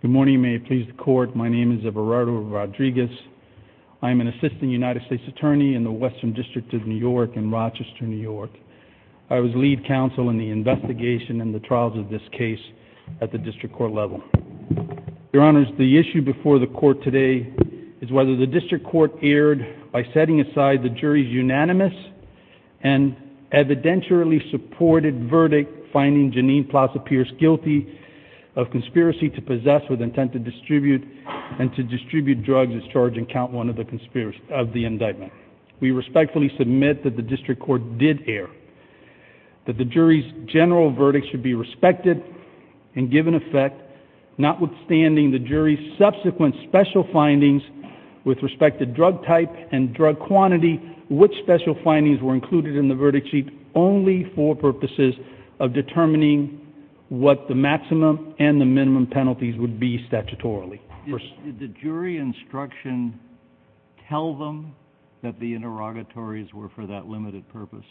Good morning. May it please the court. My name is Everardo Rodriguez. I'm an assistant United States attorney in the Western District of New York in Rochester, New York. I was lead counsel in the investigation and the trials of this case at the district court level. Your Honors, the issue before the court today is whether the district court erred by setting aside the jury's unanimous and evidentially supported verdict finding Jeanine Klaus appears guilty of conspiracy to possess with intent to distribute and to distribute drugs as charged in count one of the indictment. We respectfully submit that the district court did err, that the jury's general verdict should be respected and given effect, notwithstanding the jury's subsequent special findings with respect to drug type and drug quantity, which special findings were included in the verdict sheet only for purposes of determining what the maximum and the minimum penalties would be statutorily. Did the jury instruction tell them that the interrogatories were for that limited purpose?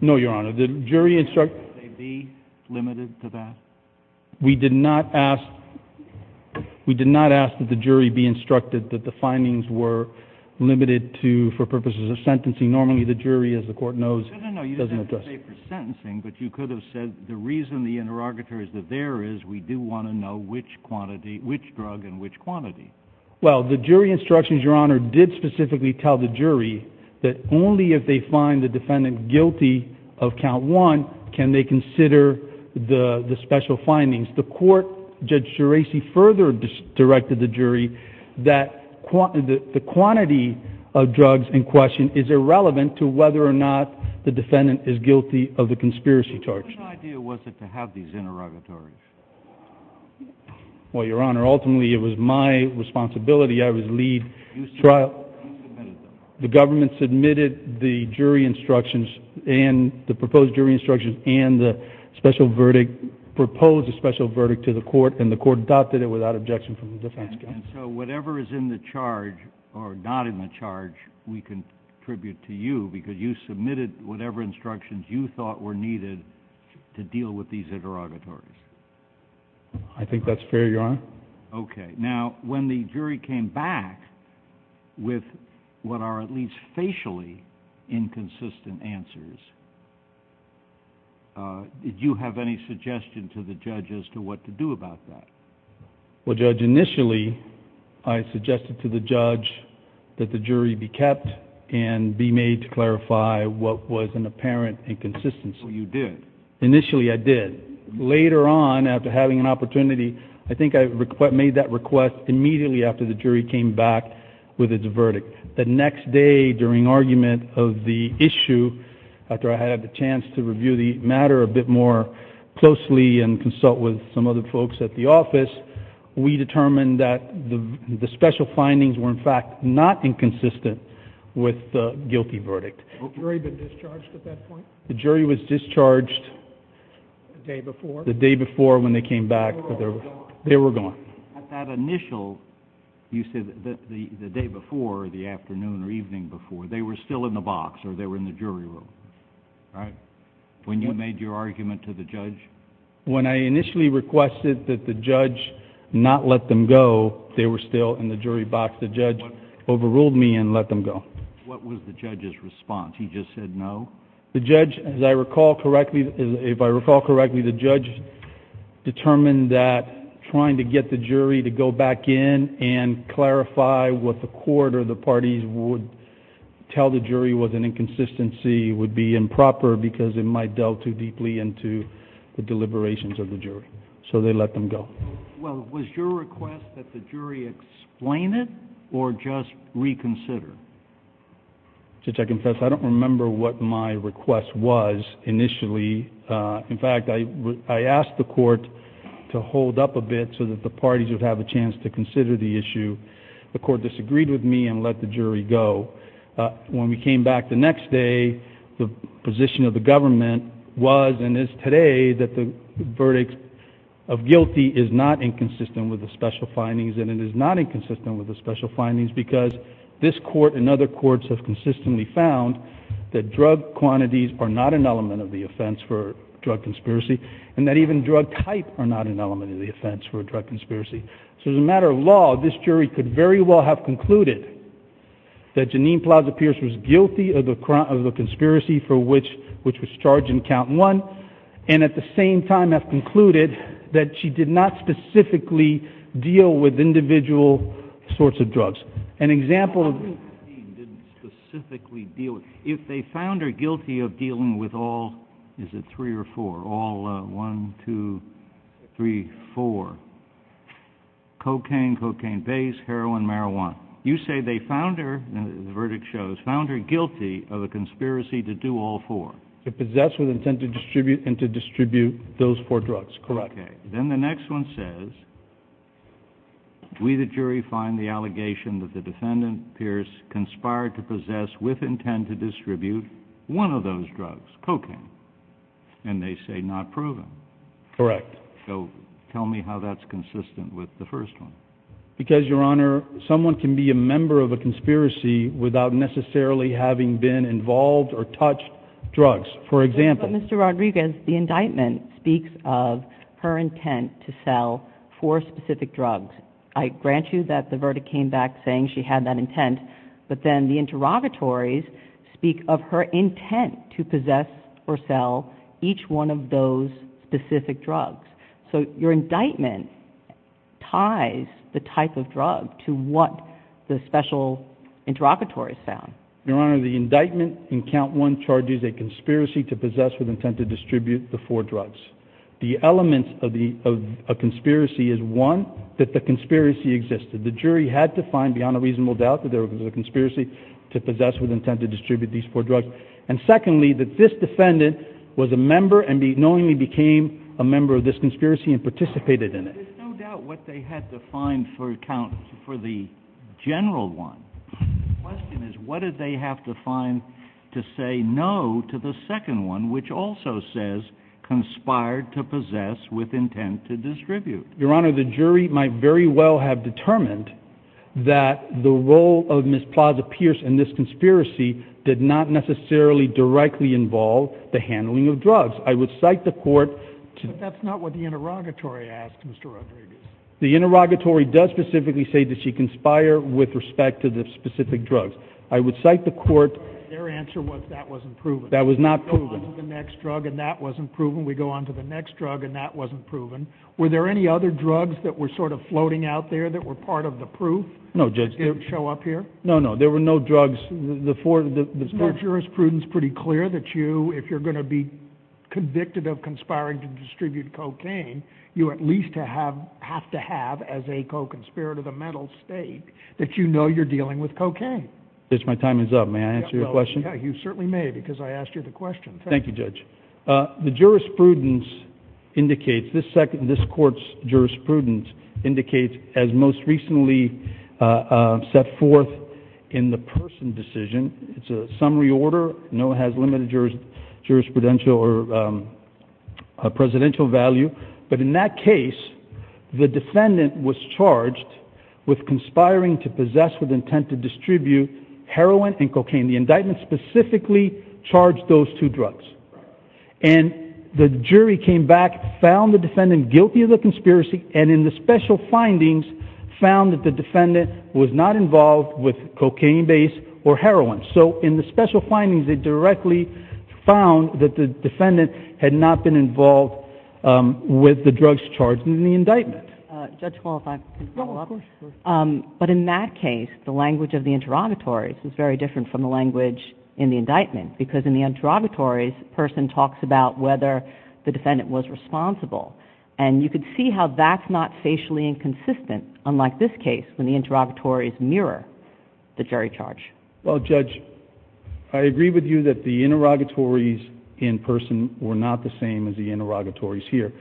No, Your Honor, the jury instructed that they be limited to that. We did not ask, we did not ask that the jury be instructed that the findings were limited to for purposes of sentencing. Normally the jury, as the court knows, doesn't address. No, no, no, you didn't say for sentencing, but you could have said the reason the interrogatory is that there is, we do want to know which quantity, which drug and which quantity. Well, the jury instructions, Your Honor, did specifically tell the jury that only if they find the defendant guilty of count one, can they consider the quantity of drugs in question is irrelevant to whether or not the defendant is guilty of the conspiracy charge. Whose idea was it to have these interrogatories? Well, Your Honor, ultimately it was my responsibility. I was lead trial. You submitted them? The government submitted the jury instructions and the proposed jury instructions and the special verdict, proposed a special verdict to the court and the court adopted it without objection from the defense counsel. And so whatever is in the charge or not in the charge, we can attribute to you because you submitted whatever instructions you thought were needed to deal with these interrogatories. I think that's fair, Your Honor. Okay. Now, when the jury came back with what are at least facially inconsistent answers, did you have any suggestion to the judge as to what to do about that? Well, Judge, initially I suggested to the judge that the jury be kept and be made to clarify what was an apparent inconsistency. Well, you did. Initially I did. Later on, after having an opportunity, I think I made that request immediately after the jury came back with its verdict. The next day during argument of the issue, after I had the chance to review the matter a bit more closely and consult with some other folks at the office, we determined that the special findings were in fact not inconsistent with the guilty verdict. Had the jury been discharged at that point? The jury was discharged... The day before? The day before when they came back. They were still in the box or they were in the jury room, right? When you made your argument to the judge? When I initially requested that the judge not let them go, they were still in the jury box. The judge overruled me and let them go. What was the judge's response? He just said no? The judge, as I recall correctly, if I recall correctly, the judge determined that trying to get the jury to go back in and clarify what the court or the parties would tell the jury was an inconsistency would be improper because it might delve too deeply into the deliberations of the jury. So they let them go. Well, was your request that the jury explain it or just reconsider? Judge, I confess I don't remember what my request was initially. In fact, I asked the court to hold up a bit so that the parties would have a chance to consider the issue. The court disagreed with me and let the jury go. When we came back the next day, the position of the government was and is today that the verdict of guilty is not inconsistent with the special findings and it is not inconsistent with the special findings because this court and other courts have consistently found that drug quantities are not an element of the offense for drug conspiracy and that even drug type are not an element of the offense for a drug conspiracy. So as a matter of law, this jury could very well have concluded that Jeannine Plaza Pierce was guilty of the conspiracy for which was charged in count one and at the same time have concluded that she did not specifically deal with individual sorts of drugs. An example of... Jeannine didn't specifically deal with... If they found her guilty of dealing with all... Cocaine, cocaine base, heroin, marijuana. You say they found her, the verdict shows, found her guilty of a conspiracy to do all four. To possess with intent to distribute and to distribute those four drugs, correct. Then the next one says, we the jury find the allegation that the defendant Pierce conspired to possess with intent to distribute one of those drugs, cocaine, and they say not proven. Correct. So tell me how that's consistent with the first one. Because Your Honor, someone can be a member of a conspiracy without necessarily having been involved or touched drugs. For example... Mr. Rodriguez, the indictment speaks of her intent to sell four specific drugs. I grant you that the verdict came back saying she had that intent, but then the interrogatories speak of her intent to possess or sell each one of those specific drugs. So your indictment ties the type of drug to what the special interrogatories found. Your Honor, the indictment in count one charges a conspiracy to possess with intent to distribute the four drugs. The elements of the conspiracy is one, that the conspiracy existed. The jury had to find beyond a reasonable doubt that there was a conspiracy to possess with intent to distribute these four drugs. And secondly, that this defendant was a member and knowingly became a member of this conspiracy and participated in it. There's no doubt what they had to find for the general one. The question is, what did they have to find to say no to the second one, which also says conspired to possess with intent to distribute? Your Honor, the jury might very well have determined that the role of Ms. Plaza-Pierce in this conspiracy did not necessarily directly involve the handling of drugs. I would cite the court... But that's not what the interrogatory asked, Mr. Rodriguez. The interrogatory does specifically say that she conspired with respect to the specific drugs. I would cite the court... Their answer was that wasn't proven. That was not proven. We go on to the next drug and that wasn't proven. We go on to the next drug and that wasn't proven. Were there any other drugs that were sort of floating out there that were part of the proof? No, Judge. That didn't show up here? No, no. There were no drugs. The four jurisprudence pretty clear that you, if you're going to be convicted of conspiring to distribute cocaine, you at least have to have, as a co-conspirator of the mental state, that you know you're dealing with cocaine. Judge, my time is up. May I answer your question? You certainly may because I asked you the question. Thank you, Judge. The jurisprudence indicates, this court's jurisprudence indicates, as most recently set forth in the person decision, it's a summary order. No one has limited jurisprudential or presidential value. But in that case, the defendant was charged with conspiring to possess with intent to distribute heroin and cocaine. The indictment specifically charged those two drugs. And the jury came back, found the defendant guilty of the conspiracy, and in the special findings, found that the defendant was not involved with cocaine-based or heroin. So in the special findings, they directly found that the defendant had not been involved with the drugs charged in the indictment. Judge, if I can follow up. But in that case, the language of the interrogatory is very different from the language in the interrogatories. The person talks about whether the defendant was responsible. And you can see how that's not facially inconsistent, unlike this case, when the interrogatories mirror the jury charge. Well, Judge, I agree with you that the interrogatories in person were not the same as the interrogatories here.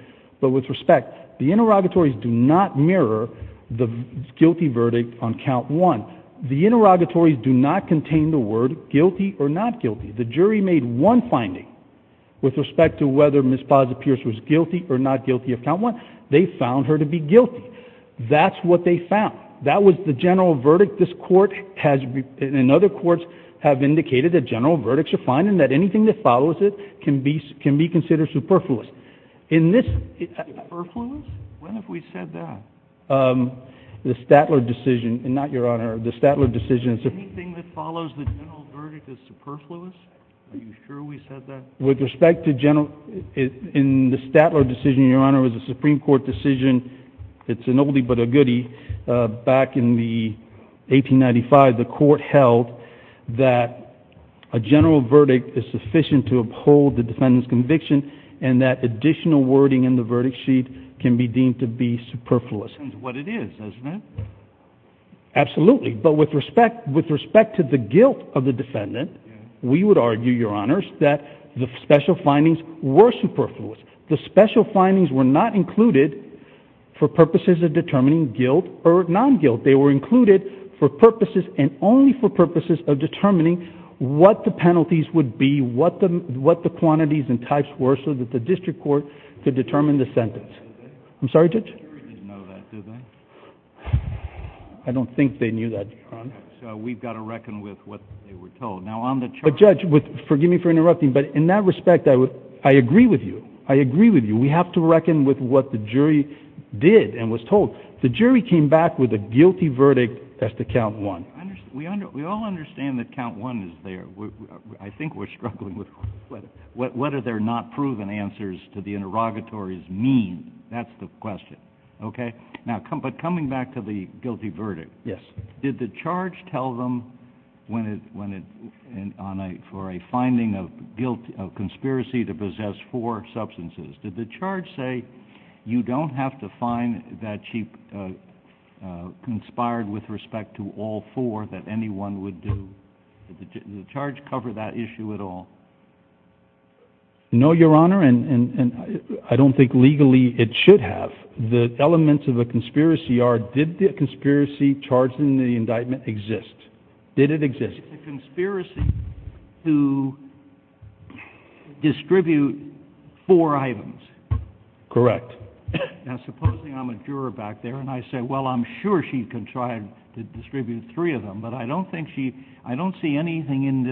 But with respect, the interrogatories do not mirror the guilty verdict on count one. The interrogatories do not contain the word guilty or not guilty. The jury made one finding with respect to whether Ms. Plaza-Pierce was guilty or not guilty of count one. They found her to be guilty. That's what they found. That was the general verdict this court has, and other courts, have indicated that general verdicts are fine and that anything that follows it can be considered superfluous. In this... Superfluous? When have we said that? The Statler decision, and not Your Honor. The Statler decision... Anything that follows the general verdict is superfluous? Are you sure we said that? With respect to general... In the Statler decision, Your Honor, it was a Supreme Court decision. It's an oldie but a goodie. Back in 1895, the court held that a general verdict is sufficient to uphold the defendant's conviction, and that additional wording in the verdict sheet can be deemed to be superfluous. That's what it is, isn't it? Absolutely. But with respect to the guilt of the defendant, we would argue, Your Honor, that the special findings were superfluous. The special findings were not included for purposes of determining guilt or non-guilt. They were included for purposes and only for purposes of determining what the penalties would be, what the quantities and types were so that the district court could determine the sentence. I'm sorry, Judge? The jury didn't know that, did they? I don't think they knew that, Your Honor. Okay. So we've got to reckon with what they were told. Now, on the charge... But, Judge, forgive me for interrupting, but in that respect, I agree with you. I agree with you. We have to reckon with what the jury did and was told. The jury came back with a guilty verdict. That's the count one. We all understand that count one is there. I think we're struggling with what are their not proven answers to the interrogatory's mean. That's the question. Okay? But coming back to the guilty verdict, did the charge tell them for a finding of conspiracy to possess four substances, did the charge say you don't have to find that she conspired with respect to all four that anyone would do? Did the charge cover that issue at all? No, Your Honor, and I don't think legally it should have. The elements of a conspiracy are did the conspiracy charged in the indictment exist? Did it exist? It's a conspiracy to distribute four items. Correct. Now, supposing I'm a juror back there and I say, well, I'm sure she conspired to distribute three of them, but I don't think she, I don't see anything in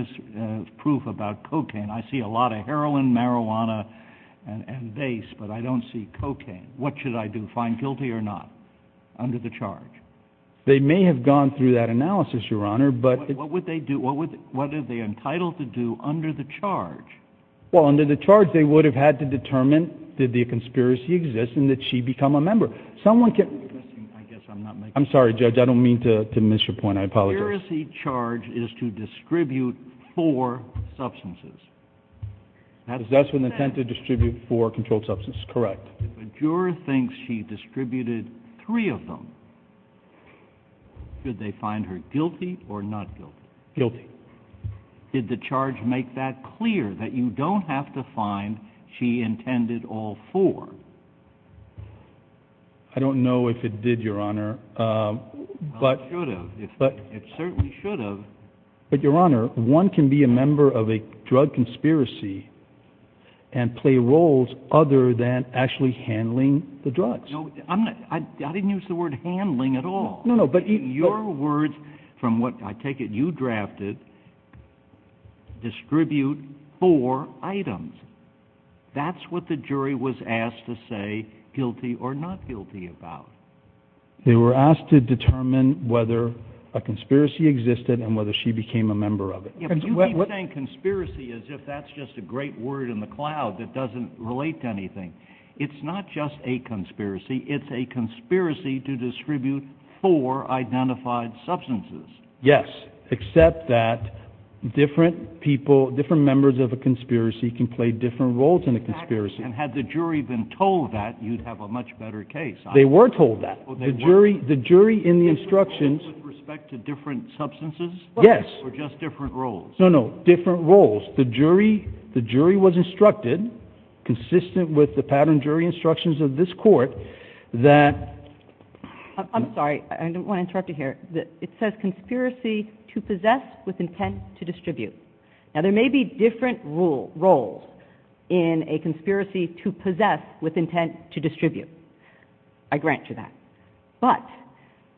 this proof about cocaine. I see a lot of heroin, marijuana, and base, but I don't see cocaine. What should I do? Find guilty or not under the charge? They may have gone through that analysis, Your Honor, but What would they do? What would, what are they entitled to do under the charge? Well, under the charge, they would have had to determine did the conspiracy exist and that she become a member. Someone can I guess I'm not making I'm sorry, judge. I don't mean to miss your point. I apologize. The conspiracy charge is to distribute four substances. That's an attempt to distribute four controlled substances. Correct. If a juror thinks she distributed three of them, should they find her guilty or not guilty? Guilty. Did the charge make that clear that you don't have to find she intended all four? I don't know if it did, Your Honor, but It should have. It certainly should have. But, Your Honor, one can be a member of a drug conspiracy and play roles other than actually handling the drugs. No, I'm not, I didn't use the word handling at all. No, no, but Your words, from what I take it you drafted, distribute four items. That's what the jury was asked to say guilty or not guilty about. They were asked to determine whether a conspiracy existed and whether she became a member of it. If you keep saying conspiracy as if that's just a great word in the cloud that doesn't relate to anything, it's not just a conspiracy, it's a conspiracy to distribute four identified substances. Yes, except that different people, different members of a conspiracy can play different roles in a conspiracy. And had the jury been told that, you'd have a much better case. They were told that. The jury, the jury in the instructions. With respect to different substances? Yes. Or just different roles? No, no, different roles. The jury, the jury was instructed, consistent with the pattern jury instructions of this court, that I'm sorry, I don't want to interrupt you here. It says conspiracy to possess with intent to distribute. Now there may be different roles in a conspiracy to possess with intent to distribute. I grant you that. But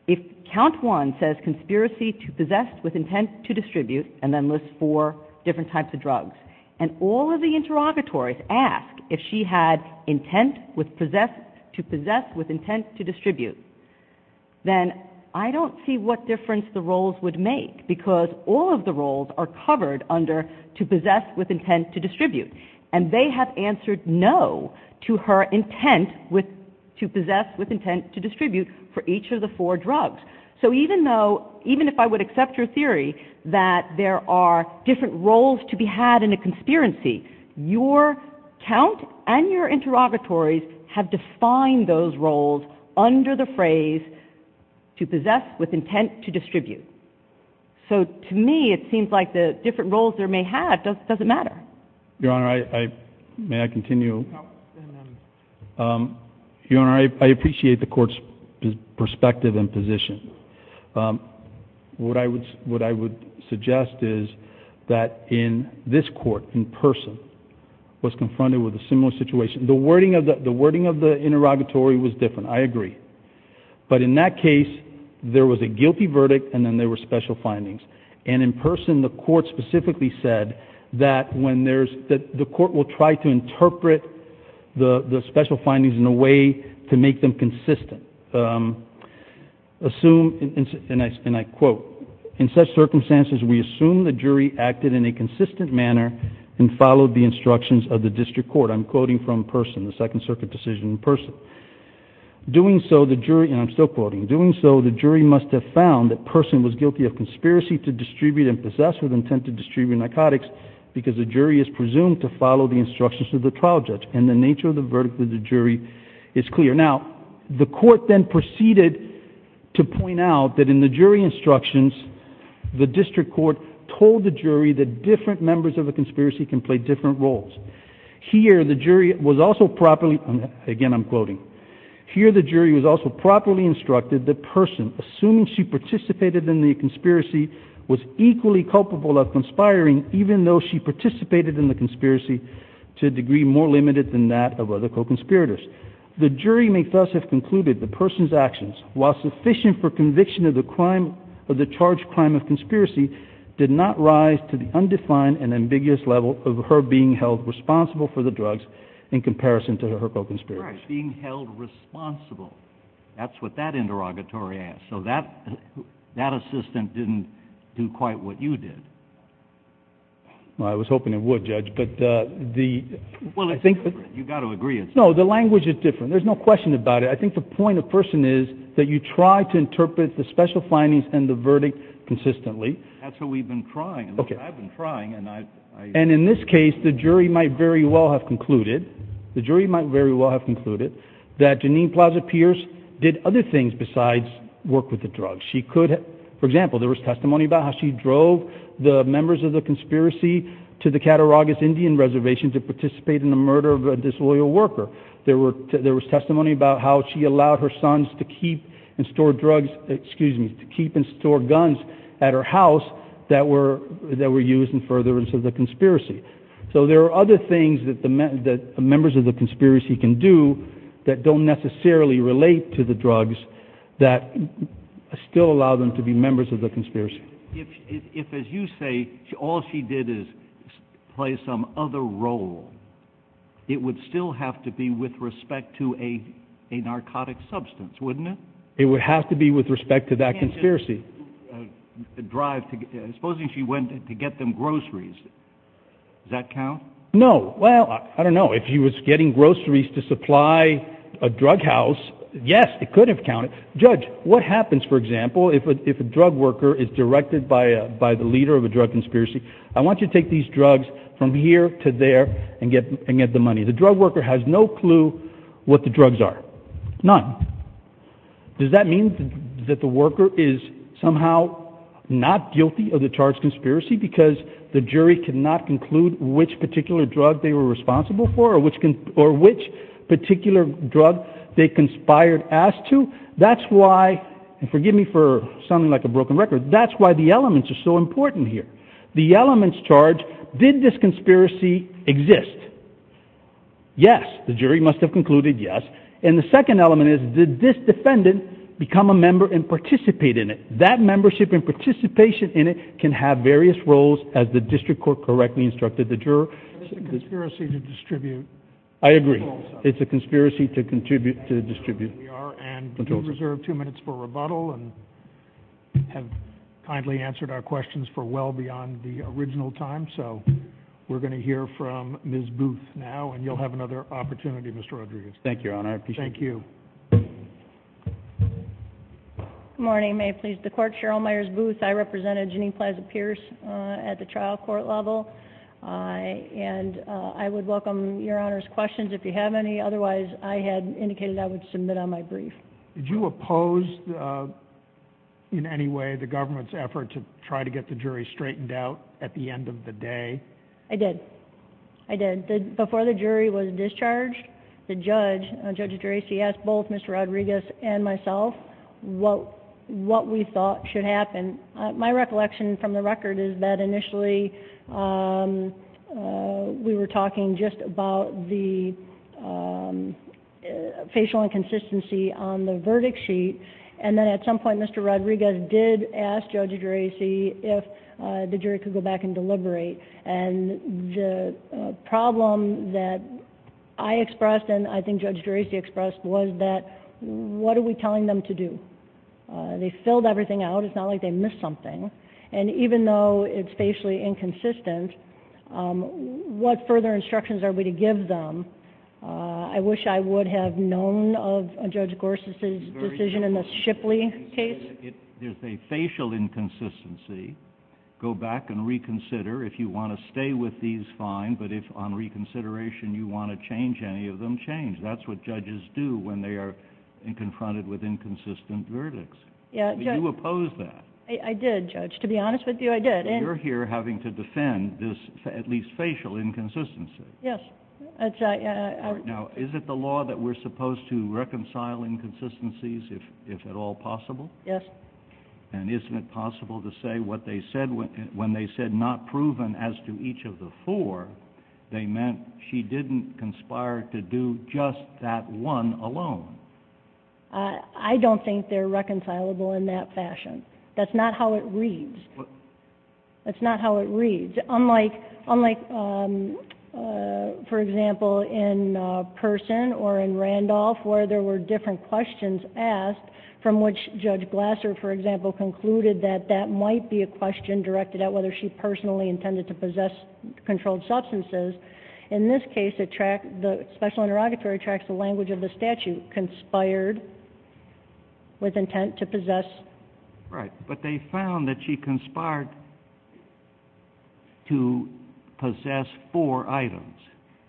if count one says conspiracy to possess with intent to distribute and then list four different types of drugs and all of the interrogatories ask if she had intent to possess with intent to distribute, then I don't see what difference the roles would make because all of the roles are covered under to possess with intent to distribute. And they have answered no to her intent with, to possess with intent to distribute for each of the four drugs. So even though, even if I would accept your theory that there are different roles to be had in a conspiracy, your count and your interrogatories have defined those roles under the phrase to possess with intent to distribute. So to me, it seems like the different roles there may have doesn't matter. Your Honor, I, may I continue? Your Honor, I appreciate the court's perspective and position. Um, what I would, what I would suggest is that in this court in person was confronted with a similar situation. The wording of the, the wording of the interrogatory was different. I agree. But in that case, there was a guilty verdict and then there were special findings. And in person, the court specifically said that when there's, that the court will try to interpret the, the special findings in a way to make them consistent. Um, assume, and I, and I quote, in such circumstances, we assume the jury acted in a consistent manner and followed the instructions of the district court. I'm quoting from person, the second circuit decision in person. Doing so the jury, and I'm still quoting, doing so the jury must have found that person was guilty of conspiracy to distribute and possess with intent to distribute narcotics because the jury is presumed to follow the instructions of the trial judge. And the nature of the verdict with the jury is clear. Now, the court then proceeded to point out that in the jury instructions, the district court told the jury that different members of a conspiracy can play different roles. Here, the jury was also properly, again, I'm quoting here. The jury was also properly instructed that person, assuming she participated in the conspiracy was equally culpable of conspiring, even though she participated in the conspiracy to a degree more limited than that of other co-conspirators. The jury may thus have concluded the person's actions while sufficient for conviction of the crime of the charge, crime of conspiracy did not rise to the undefined and ambiguous level of her being held responsible for the drugs in comparison to her co-conspirators. Right. Being held responsible. That's what that interrogatory asked. So that, that assistant didn't do quite what you did. Well, I was hoping it would judge, but, uh, the, well, I think you got to agree. No, the language is different. There's no question about it. I think the point of person is that you try to interpret the special findings and the verdict consistently. That's what we've been trying. Okay. I've been trying and I, and in this case, the jury might very well have concluded the jury might very well have concluded that Janine Plaza Pierce did other things besides work with the drugs. She could, for example, there was testimony about how she drove the members of the conspiracy to the Cattaraugus Indian reservation to participate in the murder of a disloyal worker. There were, there was testimony about how she allowed her sons to keep and store drugs, excuse me, to keep and store guns at her house that were, that were used in furtherance of the conspiracy. So there are other things that the men that members of the conspiracy can do that don't necessarily relate to the drugs that still allow them to be members of the conspiracy. If, if, if, as you say, all she did is play some other role, it would still have to be with respect to a, a narcotic substance, wouldn't it? It would have to be with respect to that conspiracy. The drive to, supposing she went to get them groceries, does that count? No. Well, I don't know if she was getting groceries to supply a drug house. Yes. It could have counted. Judge, what happens, for example, if a, if a drug worker is directed by a, by the leader of a drug conspiracy, I want you to take these drugs from here to there and get, and get the money. The drug worker has no clue what the drugs are. None. Does that mean that the worker is somehow not guilty of the charged conspiracy because the jury could not conclude which particular drug they were responsible for or which can, or which particular drug they conspired as to? That's why, and forgive me for sounding like a broken record, that's why the elements are so important here. The elements charge, did this conspiracy exist? Yes. The jury must have concluded yes. And the second element is, did this defendant become a member and participate in it? That membership and participation in it can have various roles as the district court correctly instructed the juror. It's a conspiracy to distribute. I agree. It's a conspiracy to contribute, to distribute. And we do reserve two minutes for rebuttal and have kindly answered our questions for well beyond the original time. So we're going to hear from Ms. Booth now, and you'll have another opportunity, Mr. Rodriguez. Thank you, Your Honor. I appreciate it. Thank you. Good morning. May it please the court. Cheryl Myers Booth. I represented Jeanine Plaza Pierce at the trial court level. And I would welcome Your Honor's questions if you have any. Otherwise, I had indicated I would submit on my brief. Did you oppose in any way the government's effort to try to get the jury straightened out at the end of the day? I did. I did. Before the jury was discharged, the judge, Judge Gracie, asked both Mr. Rodriguez and myself what we thought should happen. My recollection from the record is that initially we were talking just about the facial inconsistency on the verdict sheet. And then at some point, Mr. Rodriguez did ask Judge Gracie if the jury could go back and deliberate. And the problem that I expressed and I think Judge Gracie expressed was that what are we telling them to do? They filled everything out. It's not like they missed something. And even though it's facially inconsistent, what further instructions are we to give them? I wish I would have known of Judge Gorsuch's decision in the Shipley case. If there's a facial inconsistency, go back and reconsider. If you want to stay with these, fine. But if on reconsideration you want to change any of them, change. That's what judges do when they are confronted with inconsistent verdicts. Did you oppose that? I did, Judge. To be honest with you, I did. You're here having to defend this at least facial inconsistency. Yes. Now, is it the law that we're supposed to reconcile inconsistencies if at all possible? Yes. And isn't it possible to say what they said when they said not proven as to each of the four, they meant she didn't conspire to do just that one alone? I don't think they're reconcilable in that fashion. That's not how it reads. That's not how it reads. Unlike, for example, in Person or in Randolph where there were different questions asked from which Judge Glasser, for example, concluded that that might be a question directed at whether she personally intended to possess controlled substances, in this case the special interrogatory tracks the language of the But they found that she conspired to possess four items.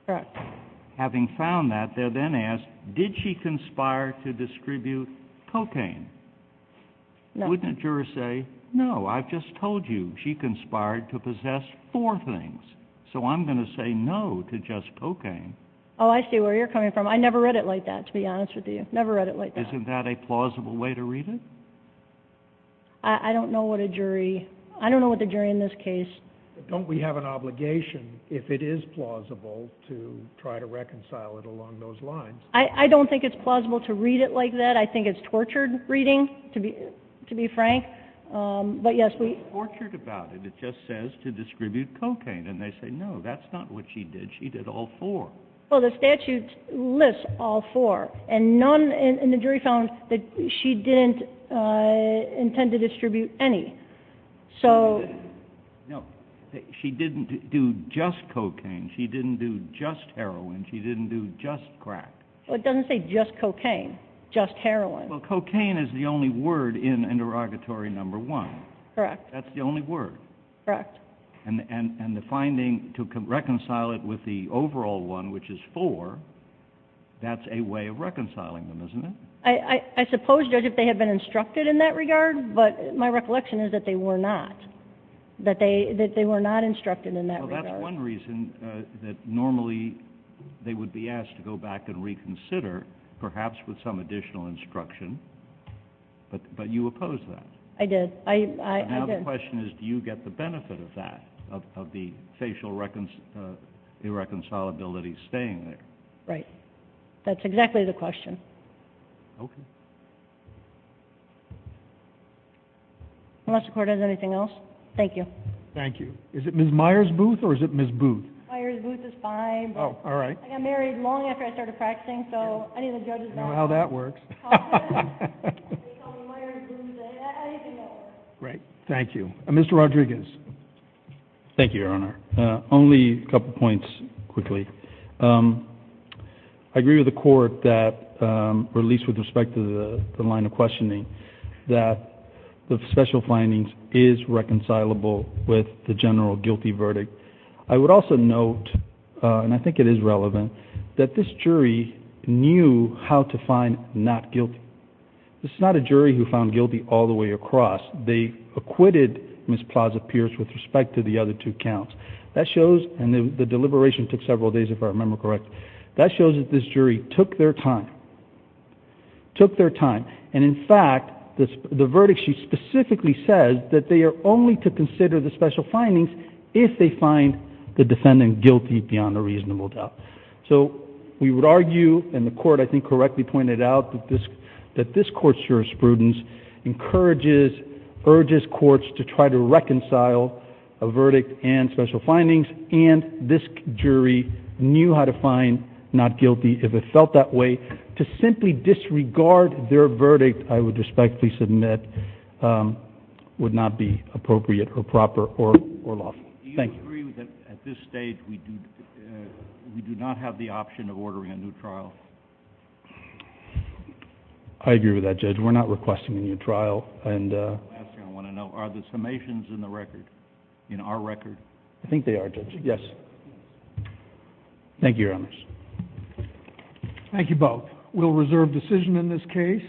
Correct. Having found that, they're then asked, did she conspire to distribute cocaine? Wouldn't a juror say, no, I've just told you she conspired to possess four things, so I'm going to say no to just cocaine. Oh, I see where you're coming from. I never read it like that, to be honest with you. Never read it like that. Isn't that a plausible way to read it? I don't know what a jury... I don't know what the jury in this case... Don't we have an obligation, if it is plausible, to try to reconcile it along those lines? I don't think it's plausible to read it like that. I think it's tortured reading, to be frank. But yes, we... It's not tortured about it. It just says to distribute cocaine. And they say, no, that's not what she did. She did all four. Well, the statute lists all four. And the jury found that she didn't intend to distribute any. No, she didn't do just cocaine. She didn't do just heroin. She didn't do just crack. It doesn't say just cocaine, just heroin. Well, cocaine is the only word in interrogatory number one. Correct. That's the only word. Correct. And the finding to reconcile it with the overall one, which is four, that's a way of reconciling them, isn't it? I suppose, Judge, if they had been instructed in that regard. But my recollection is that they were not. That they were not instructed in that regard. Well, that's one reason that normally they would be asked to go back and reconsider, perhaps with some additional instruction. But you opposed that. I did. I did. But now the question is, do you get the benefit of that, of the facial irreconcilability staying there? Right. That's exactly the question. Okay. Unless the court has anything else. Thank you. Thank you. Is it Ms. Myers Booth or is it Ms. Booth? Myers Booth is fine. Oh, all right. I got married long after I started practicing. So I need a judge's ballot. I know how that works. Great. Thank you. Mr. Rodriguez. Thank you, Your Honor. Only a couple points quickly. I agree with the court that, or at least with respect to the line of questioning, that the special findings is reconcilable with the general guilty verdict. I would also note, and I think it is relevant, that this jury knew how to find not guilty. This is not a jury who found guilty all the way across. They acquitted Ms. Plaza-Pierce with respect to the other two counts. That shows, and the deliberation took several days if I remember correctly, that shows that this jury took their time, took their time. And in fact, the verdict, she specifically says that they are only to consider the special findings if they find the defendant guilty beyond a reasonable doubt. So we would argue, and the court I think correctly pointed out that this court's jurisprudence encourages, urges courts to try to reconcile a verdict and special findings, and this jury knew how to find not guilty if it felt that way. To simply disregard their verdict, I would respectfully submit, would not be appropriate or proper or lawful. Do you agree that at this stage we do not have the option of ordering a new trial? I agree with that, Judge. We're not requesting a new trial. And the last thing I want to know, are the summations in the record, in our record? I think they are, Judge. Yes. Thank you very much. Thank you both. We'll reserve decision in this case.